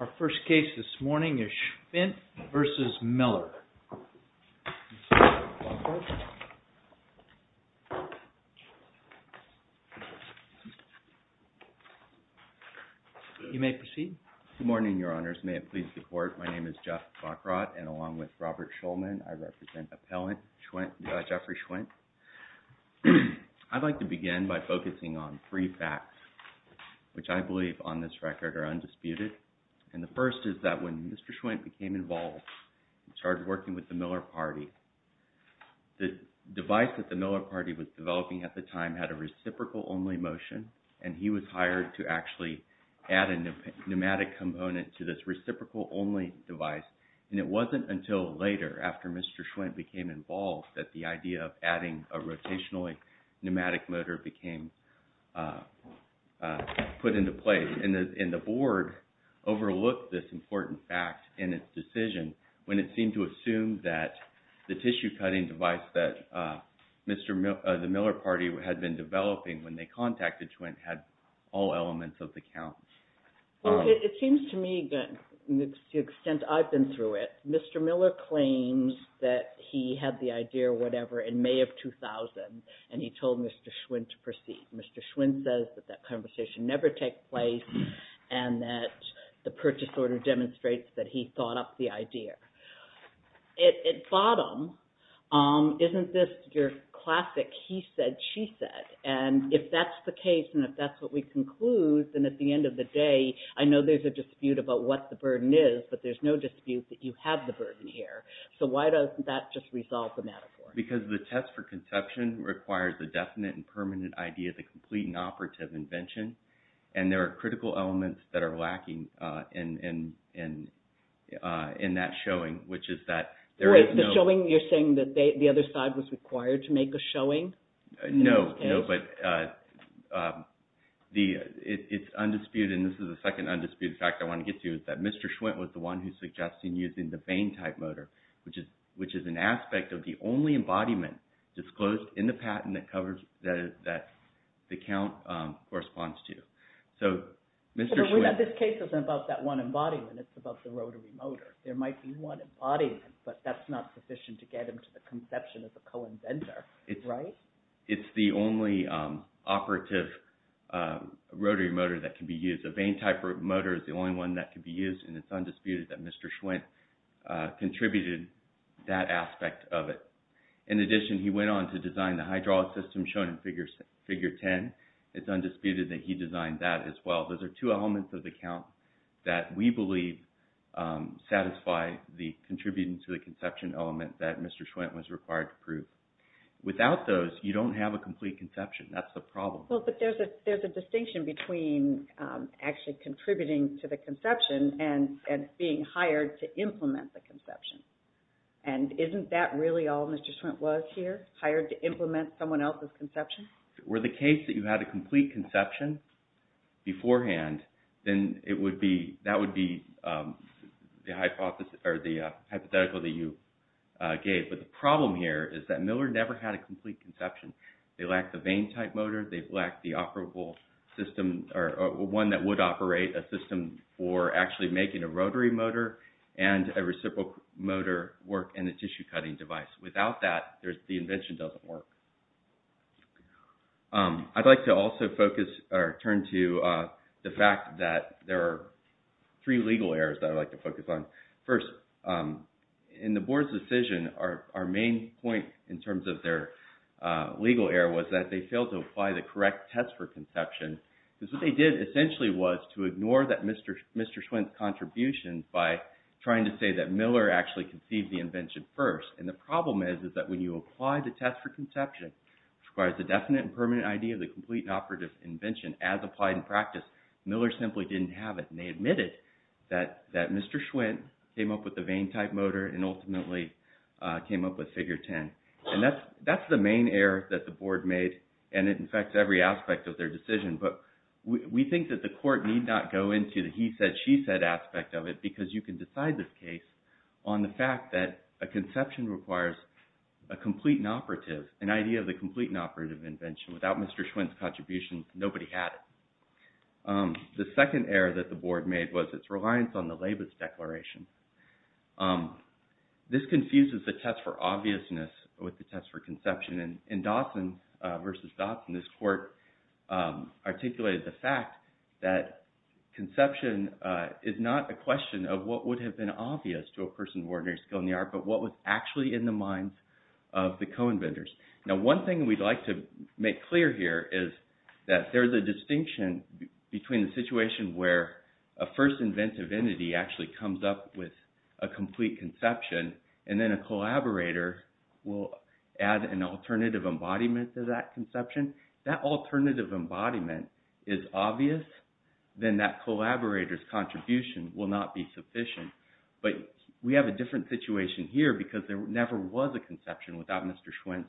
Our first case this morning is Schwindt v. Miller. You may proceed. Good morning, Your Honors. May it please the Court. My name is Jeff Bockrott, and along with Robert Shulman, I represent Appellant Jeffrey Schwindt. I'd like to begin by focusing on three facts, which I believe on this record are undisputed. And the first is that when Mr. Schwindt became involved and started working with the Miller Party, the device that the Miller Party was developing at the time had a reciprocal-only motion, and he was hired to actually add a pneumatic component to this reciprocal-only device. And it wasn't until later, after Mr. Schwindt became involved, that the idea of adding a rotationally-pneumatic motor became put into place. And the Board overlooked this important fact in its decision when it seemed to assume that the tissue-cutting device that the Miller Party had been developing when they contacted Schwindt had all elements of the count. It seems to me, to the extent I've been through it, Mr. Miller claims that he had the idea or whatever in May of 2000, and he told Mr. Schwindt to proceed. Mr. Schwindt says that that conversation never took place, and that the purchase order demonstrates that he thought up the idea. At bottom, isn't this your classic he said, she said? And if that's the case, and if that's what we conclude, then at the end of the day, I know there's a dispute about what the burden is, but there's no dispute that you have the burden here. So why doesn't that just resolve the matter for us? Because the test for conception requires a definite and permanent idea of the complete and operative invention, and there are critical elements that are lacking in that showing, which is that there is no... Wait, the showing, you're saying that the other side was required to make a showing? No, no, but it's undisputed, and this is the second undisputed fact I want to get to, that Mr. Schwindt was the one who suggested using the Bain type motor, which is an aspect of the only embodiment disclosed in the patent that the count corresponds to. So Mr. Schwindt... But this case isn't about that one embodiment, it's about the rotary motor. There might be one embodiment, but that's not sufficient to get him to the conception as a co-inventor, right? It's the only operative rotary motor that can be used. The Bain type motor is the only one that can be used, and it's undisputed that Mr. Schwindt contributed that aspect of it. In addition, he went on to design the hydraulic system shown in Figure 10. It's undisputed that he designed that as well. Those are two elements of the count that we believe satisfy the contributing to the conception element that Mr. Schwindt was required to prove. Without those, you don't have a complete conception. That's the problem. Well, but there's a distinction between actually contributing to the conception and being hired to implement the conception. And isn't that really all Mr. Schwindt was here? Hired to implement someone else's conception? Were the case that you had a complete conception beforehand, then that would be the hypothetical that you gave. But the problem here is that Miller never had a complete conception. They lacked the Bain type motor. They lacked the operable system or one that would operate a system for actually making a rotary motor and a reciprocal motor work in a tissue cutting device. Without that, the invention doesn't work. I'd like to also focus or turn to the fact that there are three legal errors that I'd like to focus on. First, in the board's decision, our main point in terms of their legal error was that they failed to apply the correct test for conception because what they did essentially was to ignore that Mr. Schwindt's contribution by trying to say that Miller actually conceived the invention first. And the problem is that when you apply the test for conception, which requires the definite and permanent idea of the complete and operative invention as applied in practice, Miller simply didn't have it. And they admitted that Mr. Schwindt came up with the Bain type motor and ultimately came up with Figure 10. And that's the main error that the board made and it affects every aspect of their decision. But we think that the court need not go into the he said, she said aspect of it because you can decide this case on the fact that a conception requires a complete and operative, an idea of the complete and operative invention. Without Mr. Schwindt's contribution, nobody had it. The second error that the board made was its reliance on the Labus Declaration. This confuses the test for obviousness with the test for conception. In Dawson v. Dawson, this court articulated the fact that conception is not a question of what would have been obvious to a person of ordinary skill in the art, but what was actually in the minds of the co-inventors. Now, one thing we'd like to make clear here is that there's a distinction between the situation where a first inventive entity actually comes up with a complete conception and then a collaborator will add an alternative embodiment to that conception. That alternative embodiment is obvious, then that collaborator's contribution will not be sufficient. But we have a different situation here because there never was a conception without Mr. Schwindt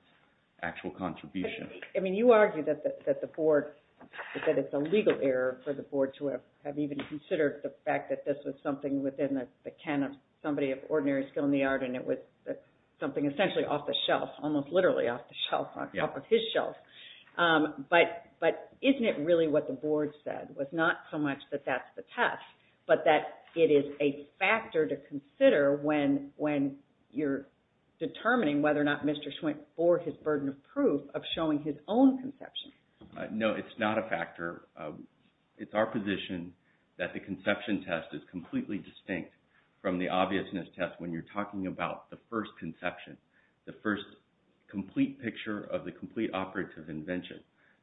actual contribution. I mean, you argue that the board, that it's a legal error for the board to have even considered the fact that this was something within the can of somebody of ordinary skill in the art and it was something essentially off the shelf, almost literally off the shelf, off of his shelf. But isn't it really what the board said? Was not so much that that's the test, but that it is a factor to consider when you're of showing his own conception. No, it's not a factor. It's our position that the conception test is completely distinct from the obviousness test when you're talking about the first conception, the first complete picture of the complete operative invention.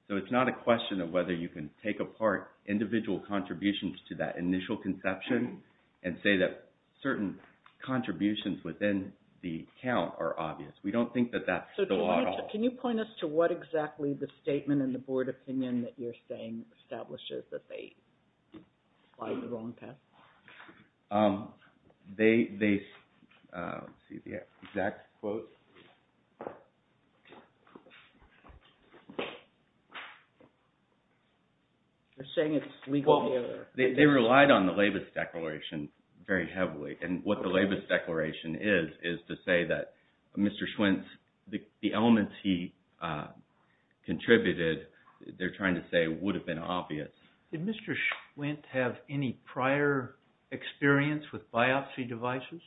So it's not a question of whether you can take apart individual contributions to that initial conception and say that certain contributions within the count are obvious. We don't think that that's the law at all. So can you point us to what exactly the statement in the board opinion that you're saying establishes that they slide the wrong path? They, let's see the exact quote. You're saying it's legal error. They relied on the Labus Declaration very heavily. And what the Labus Declaration is, is to say that Mr. Schwentz, the elements he contributed, they're trying to say would have been obvious. Did Mr. Schwentz have any prior experience with biopsy devices?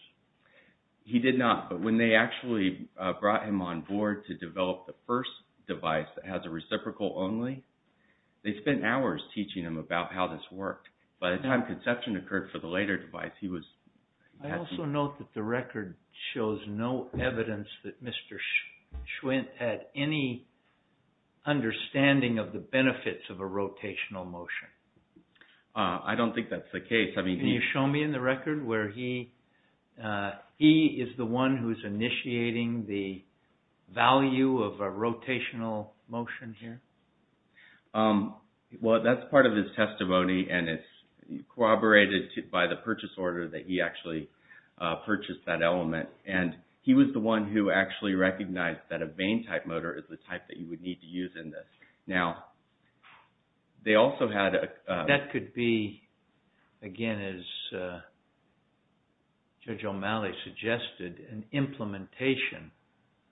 He did not, but when they actually brought him on board to develop the first device that has a reciprocal only, they spent hours teaching him about how this worked. By the time conception occurred for the later device, he was... I also note that the record shows no evidence that Mr. Schwentz had any understanding of the benefits of a rotational motion. I don't think that's the case. Can you show me in the record where he is the one who's initiating the value of a rotational motion here? Well, that's part of his testimony and it's corroborated by the purchase order that he actually purchased that element. And he was the one who actually recognized that a vane type motor is the type that you would need to use in this. Now, they also had a... That could be, again as Judge O'Malley suggested, an implementation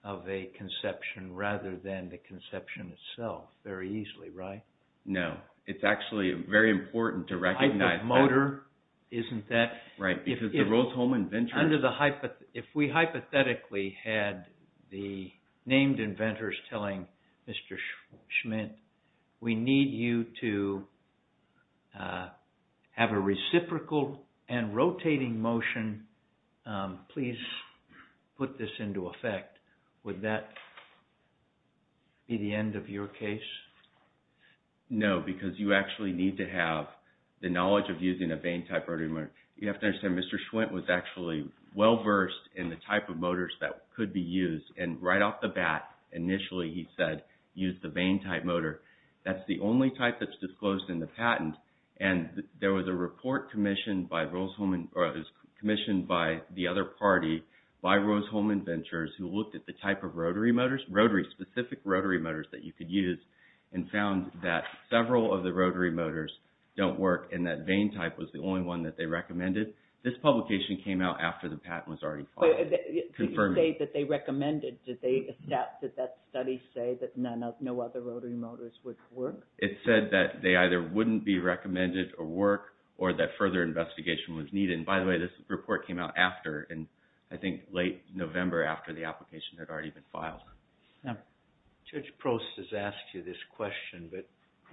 of a conception rather than the conception itself very easily, right? No. It's actually very important to recognize that. A type of motor? Isn't that... Right. Because the Rose-Hulman Venture... Under the... If we hypothetically had the named inventors telling Mr. Schwentz, we need you to have a reciprocal and rotating motion, please put this into effect. Would that be the end of your case? No, because you actually need to have the knowledge of using a vane type rotary motor. You have to understand Mr. Schwentz was actually well-versed in the type of motors that could be used. And right off the bat, initially he said, use the vane type motor. That's the only type that's disclosed in the patent. And there was a report commissioned by Rose-Hulman... Rotary, specific rotary motors that you could use and found that several of the rotary motors don't work and that vane type was the only one that they recommended. This publication came out after the patent was already filed. Wait, did you say that they recommended? Did they... Did that study say that no other rotary motors would work? It said that they either wouldn't be recommended or work or that further investigation was needed. And by the way, this report came out after and I think late November after the application had already been filed. Now, Judge Prost has asked you this question, but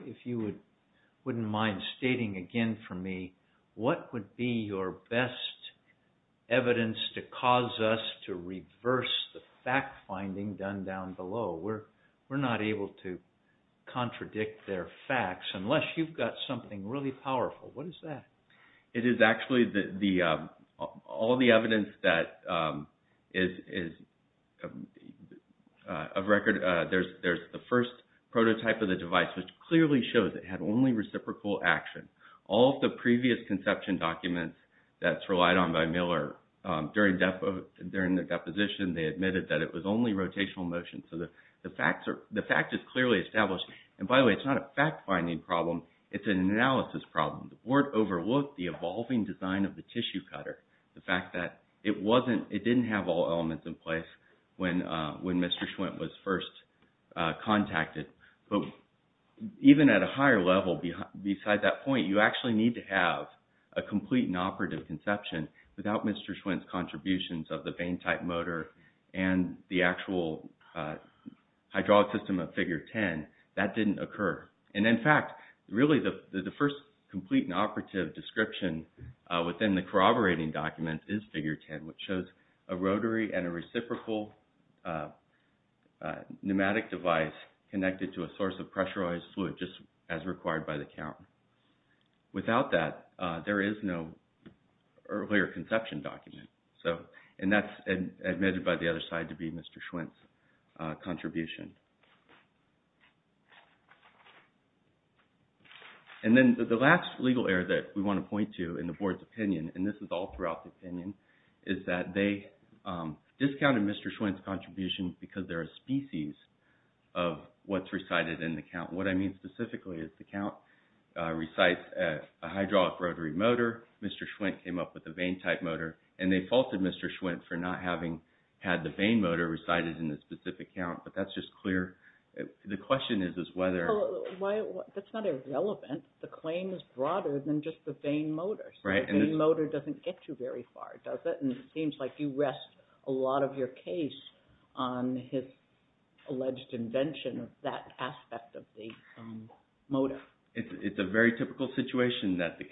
if you wouldn't mind stating again for me, what would be your best evidence to cause us to reverse the fact-finding done down below? We're not able to contradict their facts unless you've got something really powerful. What is that? It is actually all the evidence that is of record. There's the first prototype of the device, which clearly shows it had only reciprocal action. All of the previous conception documents that's relied on by Miller, during the deposition they admitted that it was only rotational motion. So the fact is clearly established. And by the way, it's not a fact-finding problem. It's an analysis problem. The board overlooked the evolving design of the tissue cutter. The fact that it didn't have all elements in place when Mr. Schwent was first contacted. But even at a higher level, beside that point, you actually need to have a complete and operative conception without Mr. Schwent's contributions of the vane-type motor and the actual hydraulic system of Figure 10. That didn't occur. And in fact, really the first complete and operative description within the corroborating document is Figure 10, which shows a rotary and a reciprocal pneumatic device connected to a source of pressurized fluid, just as required by the count. Without that, there is no earlier conception document. And that's admitted by the other side to be Mr. Schwent's contribution. And then the last legal error that we want to point to in the board's opinion, and this is all throughout the opinion, is that they discounted Mr. Schwent's contributions because they're a species of what's recited in the count. What I mean specifically is the count recites a hydraulic rotary motor. Mr. Schwent came up with a vane-type motor. And they faulted Mr. Schwent for not having had the vane motor recited in the specific count, but that's just clear. The question is whether... That's not irrelevant. The claim is broader than just the vane motor. Right. The vane motor doesn't get you very far, does it? And it seems like you rest a lot of your case on his alleged invention of that aspect of the motor. It's a very typical situation that the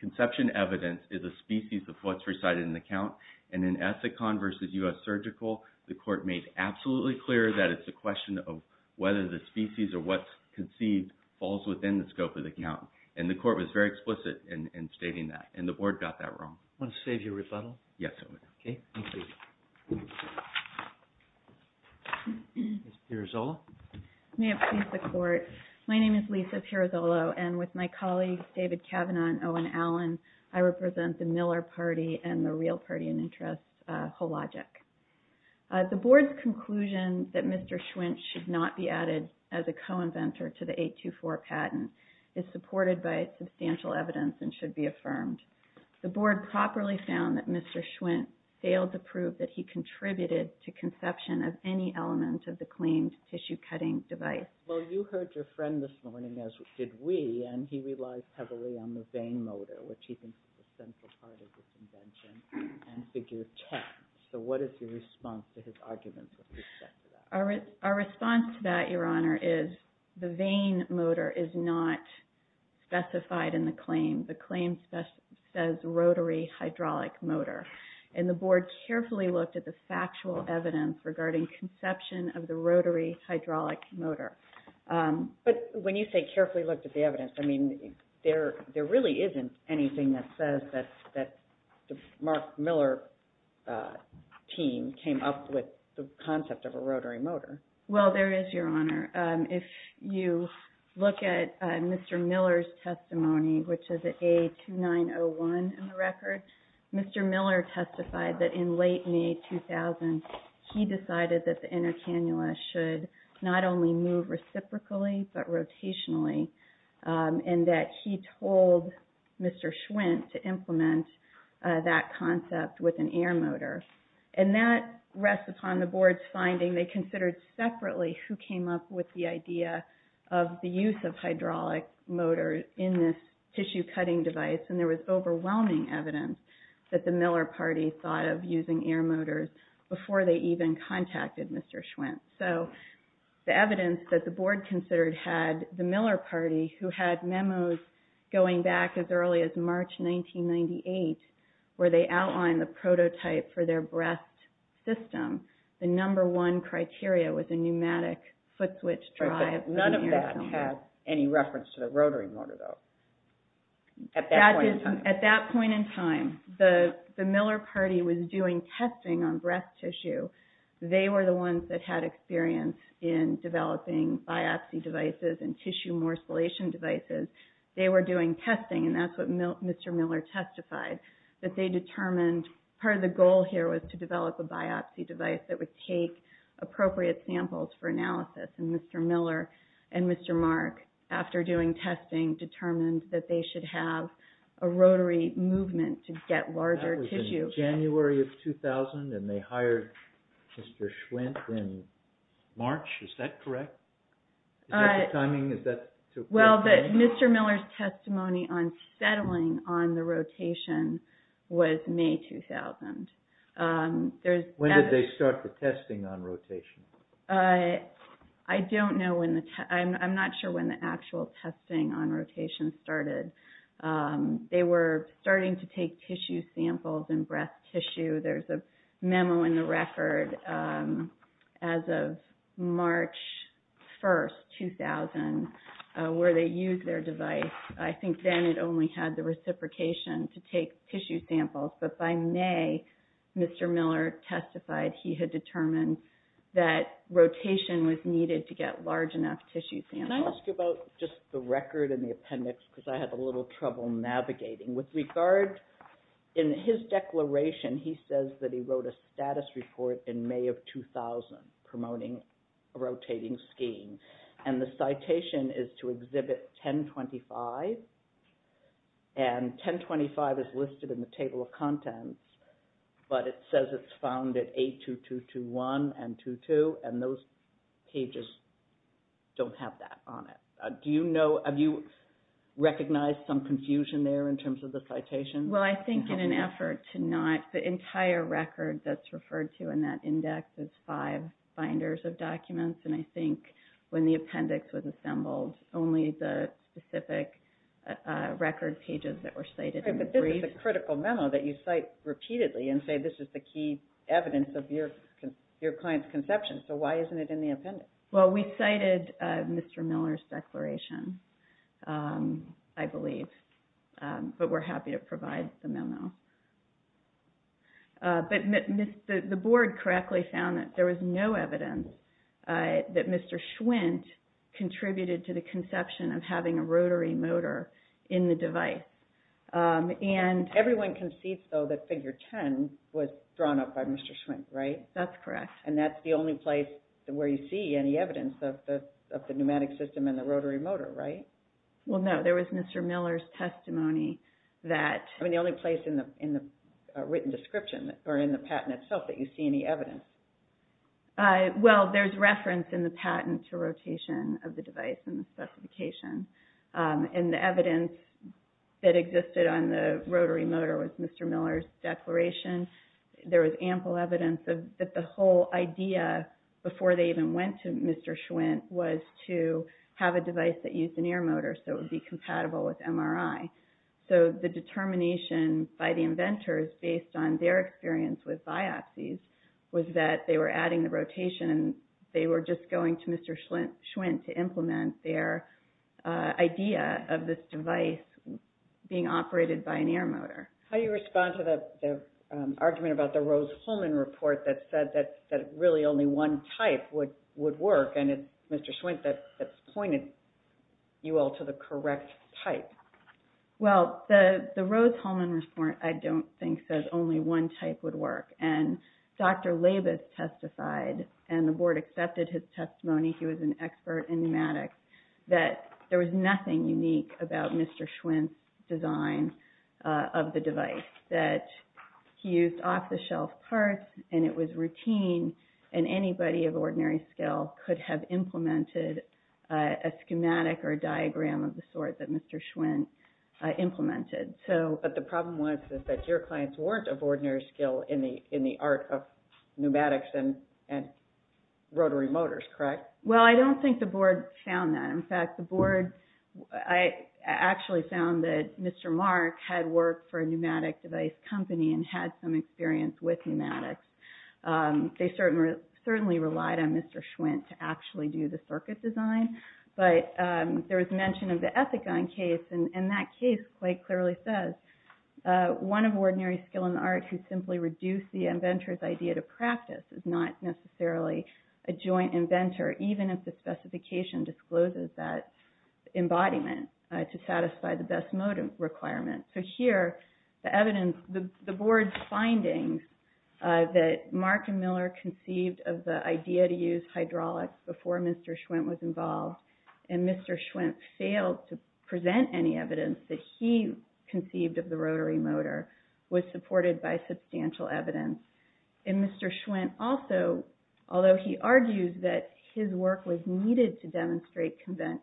conception evidence is a species of what's recited in the count. And in Ethicon versus U.S. Surgical, the court made absolutely clear that it's a question of whether the species or what's conceived falls within the scope of the count. And the court was very explicit in stating that. And the board got that wrong. Want to save your rebuttal? Yes, I would. Okay. Thank you. Ms. Pirazzolo? May it please the court. My name is Lisa Pirazzolo, and with my colleagues, David Kavanaugh and Owen Allen, I represent the Miller party and the real party in interest, Hologic. The board's conclusion that Mr. Schwint should not be added as a co-inventor to the 824 patent is supported by substantial evidence and should be affirmed. The board properly found that Mr. Schwint failed to prove that he contributed to conception of any element of the claimed tissue-cutting device. Well, you heard your friend this morning, as did we, and he relies heavily on the vane motor, which he thinks is the central part of this invention, and figure 10. So what is your response to his arguments with respect to that? Our response to that, Your Honor, is the vane motor is not specified in the claim. The claim says rotary hydraulic motor. And the board carefully looked at the factual evidence regarding conception of the rotary hydraulic motor. But when you say carefully looked at the evidence, I mean, there really isn't anything that says that the Mark Miller team came up with the concept of a rotary motor. Well, there is, Your Honor. If you look at Mr. Miller's testimony, which is at A2901 in the record, Mr. Miller testified that in late May 2000, he decided that the inner cannula should not only move reciprocally but rotationally, and that he told Mr. Schwint to implement that concept with an air motor. And that rests upon the board's finding they considered separately who came up with the idea of the use of hydraulic motor in this tissue-cutting device. And there was overwhelming evidence that the Miller party thought of using air motors before they even contacted Mr. Schwint. So the evidence that the board considered had the Miller party, who had memos going back as early as March 1998, where they outlined the prototype for their breast system. The number one criteria was a pneumatic foot switch drive. None of that has any reference to the rotary motor, though, at that point in time. At that point in time, the Miller party was doing testing on breast tissue. They were the ones that had experience in developing biopsy devices and tissue morcellation devices. They were doing testing, and that's what Mr. Miller testified, that they determined part of the goal here was to develop a biopsy device that would take appropriate samples for analysis. And Mr. Miller and Mr. Mark, after doing testing, determined that they should have a rotary movement to get larger tissue. That was in January of 2000, and they hired Mr. Schwint in March. Is that correct? Is that the timing? Well, Mr. Miller's testimony on settling on the rotation was May 2000. When did they start the testing on rotation? I'm not sure when the actual testing on rotation started. They were starting to take tissue samples in breast tissue. There's a memo in the record as of March 1st, 2000, where they used their device. I think then it only had the reciprocation to take tissue samples, but by May, Mr. Miller testified he had determined that rotation was needed to get large enough tissue samples. Can I ask you about just the record and the appendix, because I had a little trouble navigating? With regard, in his declaration, he says that he wrote a status report in May of 2000 promoting a rotating scheme, and the citation is to exhibit 1025, and 1025 is listed in the table of contents, but it says it's found at A2221 and 22, and those pages don't have that on it. Do you know, have you recognized some confusion there in terms of the citation? Well, I think in an effort to not, the entire record that's referred to in that index is five binders of documents, and I think when the appendix was assembled, only the specific record pages that were cited in the brief. But it's a critical memo that you cite repeatedly and say this is the key evidence of your client's conception, so why isn't it in the appendix? Well, we cited Mr. Miller's declaration, I believe, but we're happy to provide the memo. But the board correctly found that there was no evidence that Mr. Schwint contributed to the conception of having a rotary motor in the device. Everyone concedes, though, that figure 10 was drawn up by Mr. Schwint, right? That's correct. And that's the only place where you see any evidence of the pneumatic system and the rotary motor, right? Well, no, there was Mr. Miller's testimony that... I mean, the only place in the written description or in the patent itself that you see any evidence. Well, there's reference in the patent to rotation of the device and the specification. And the evidence that existed on the rotary motor was Mr. Miller's declaration. There was ample evidence that the whole idea, before they even went to Mr. Schwint, was to have a device that used an air motor so it would be compatible with MRI. So the determination by the inventors, based on their experience with biopsies, was that they were adding the rotation and they were just going to Mr. Schwint to implement their idea of this device being operated by an air motor. How do you respond to the argument about the Rose-Hulman report that said that really only one type would work, and it's Mr. Schwint that's pointed you all to the correct type? Well, the Rose-Hulman report, I don't think, says only one type would work. And Dr. Labus testified, and the board accepted his testimony, he was an expert in pneumatics, that there was nothing unique about Mr. Schwint's design of the device. He used off-the-shelf parts, and it was routine, and anybody of ordinary skill could have implemented a schematic or diagram of the sort that Mr. Schwint implemented. But the problem was that your clients weren't of ordinary skill in the art of pneumatics and rotary motors, correct? Well, I don't think the board found that. In fact, the board, I actually found that Mr. Mark had worked for a pneumatic device company and had some experience with pneumatics. They certainly relied on Mr. Schwint to actually do the circuit design, but there was mention of the Ethicon case, and that case quite clearly says one of ordinary skill in the art who simply reduced the inventor's idea to practice is not necessarily a joint inventor, even if the specification discloses that embodiment to satisfy the best mode requirement. So here, the evidence, the board's findings that Mark and Miller conceived of the idea to use hydraulics before Mr. Schwint was involved, and Mr. Schwint failed to present any evidence that he conceived of the rotary motor, was supported by substantial evidence. And Mr. Schwint also, although he argues that his work was needed to demonstrate conception,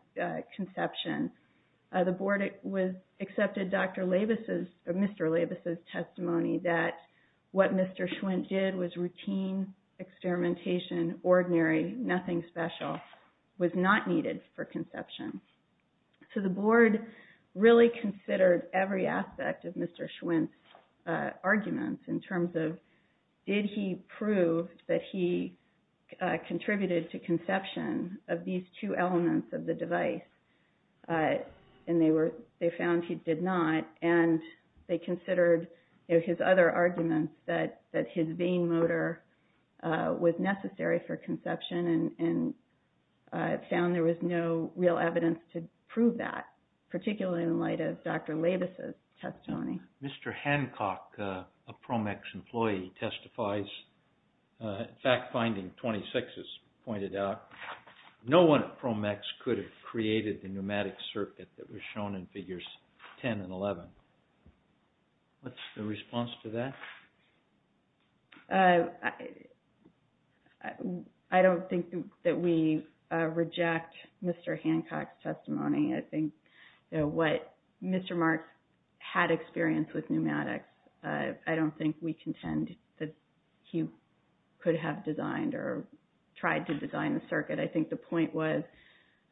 the board accepted Dr. Labus's, Mr. Labus's testimony that what Mr. Schwint did was routine experimentation, ordinary, nothing special, was not needed for conception. So the board really considered every aspect of Mr. Schwint's arguments in terms of did he prove that he contributed to conception of these two elements of the device, and they found he did not, and they considered his other arguments that his vane motor was necessary for conception and found there was no real evidence to prove that, particularly in light of Dr. Labus's testimony. Mr. Hancock, a PROMEX employee, testifies, fact finding 26 is pointed out, no one at PROMEX could have created the pneumatic circuit that was shown in figures 10 and 11. What's the response to that? I don't think that we reject Mr. Hancock's testimony. I think what Mr. Marks had experience with pneumatics, I don't think we contend that he could have designed or tried to design the circuit. I think the point was,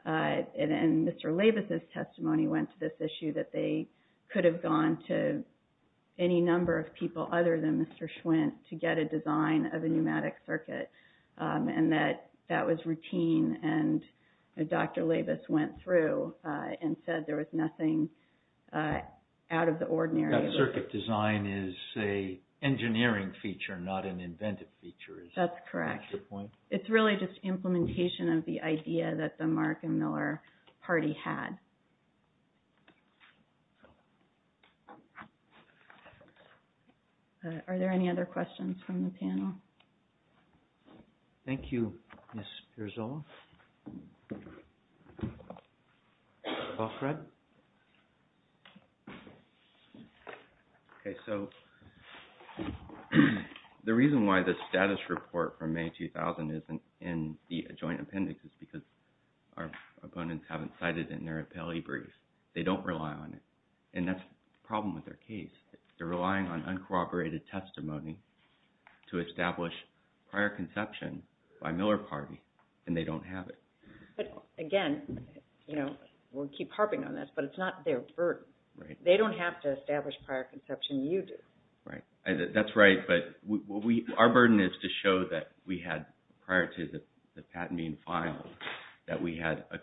and Mr. Labus's testimony went to this issue, that they could have gone to any number of people other than Mr. Schwint to get a design of a pneumatic circuit, and that that was routine, and Dr. Labus went through and said there was nothing out of the ordinary. That circuit design is a engineering feature, not an inventive feature. That's correct. Is that your point? It's really just implementation of the idea that the Mark and Miller party had. Are there any other questions from the panel? Thank you, Ms. Pierzola. Paul Fred? Okay, so the reason why the status report from May 2000 isn't in the joint appendix is because our opponents haven't cited it in their appellee briefs. They don't rely on it, and that's the problem with their case. They're relying on uncorroborated testimony to establish prior conception by Miller party, and they don't have it. Again, we'll keep harping on this, but it's not their burden. They don't have to establish prior conception. You do. That's right, but our burden is to show that we had, prior to the patent being filed, that we had a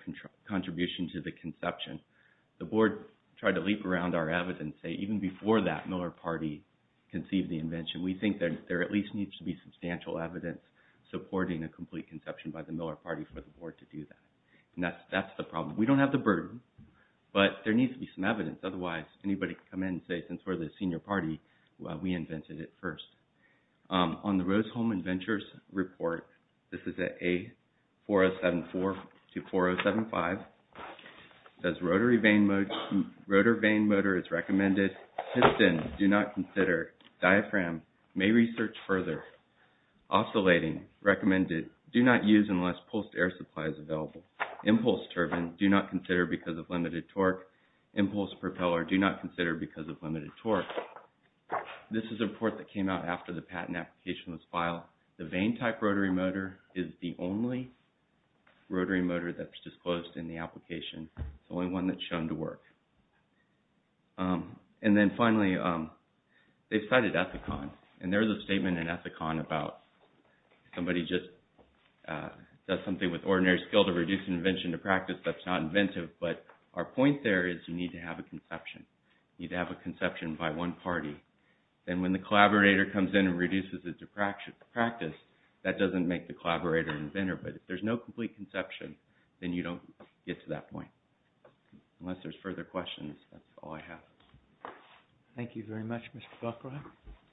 contribution to the conception. The board tried to leap around our evidence and say, even before that, Miller party conceived the invention. We think that there at least needs to be substantial evidence supporting a complete conception by the Miller party for the board to do that, and that's the problem. We don't have the burden, but there needs to be some evidence. Otherwise, anybody can come in and say, since we're the senior party, we invented it first. On the Rose-Hulman Ventures report, this is at A4074 to 4075, it says rotary vane motor is recommended. Piston, do not consider. Diaphragm, may research further. Oscillating, recommended. Do not use unless pulsed air supply is available. Impulse turbine, do not consider because of limited torque. Impulse propeller, do not consider because of limited torque. This is a report that came out after the patent application was filed. The vane type rotary motor is the only rotary motor that's disclosed in the application. It's the only one that's shown to work. And then finally, they cited Ethicon, and there's a statement in Ethicon about somebody just does something with ordinary skill to reduce invention to practice that's not inventive, but our point there is you need to have a conception. You need to have a conception by one party. Then when the collaborator comes in and reduces it to practice, that doesn't make the collaborator an inventor, but if there's no complete conception, then you don't get to that point. Unless there's further questions, that's all I have. Thank you very much, Mr. Buckrodt.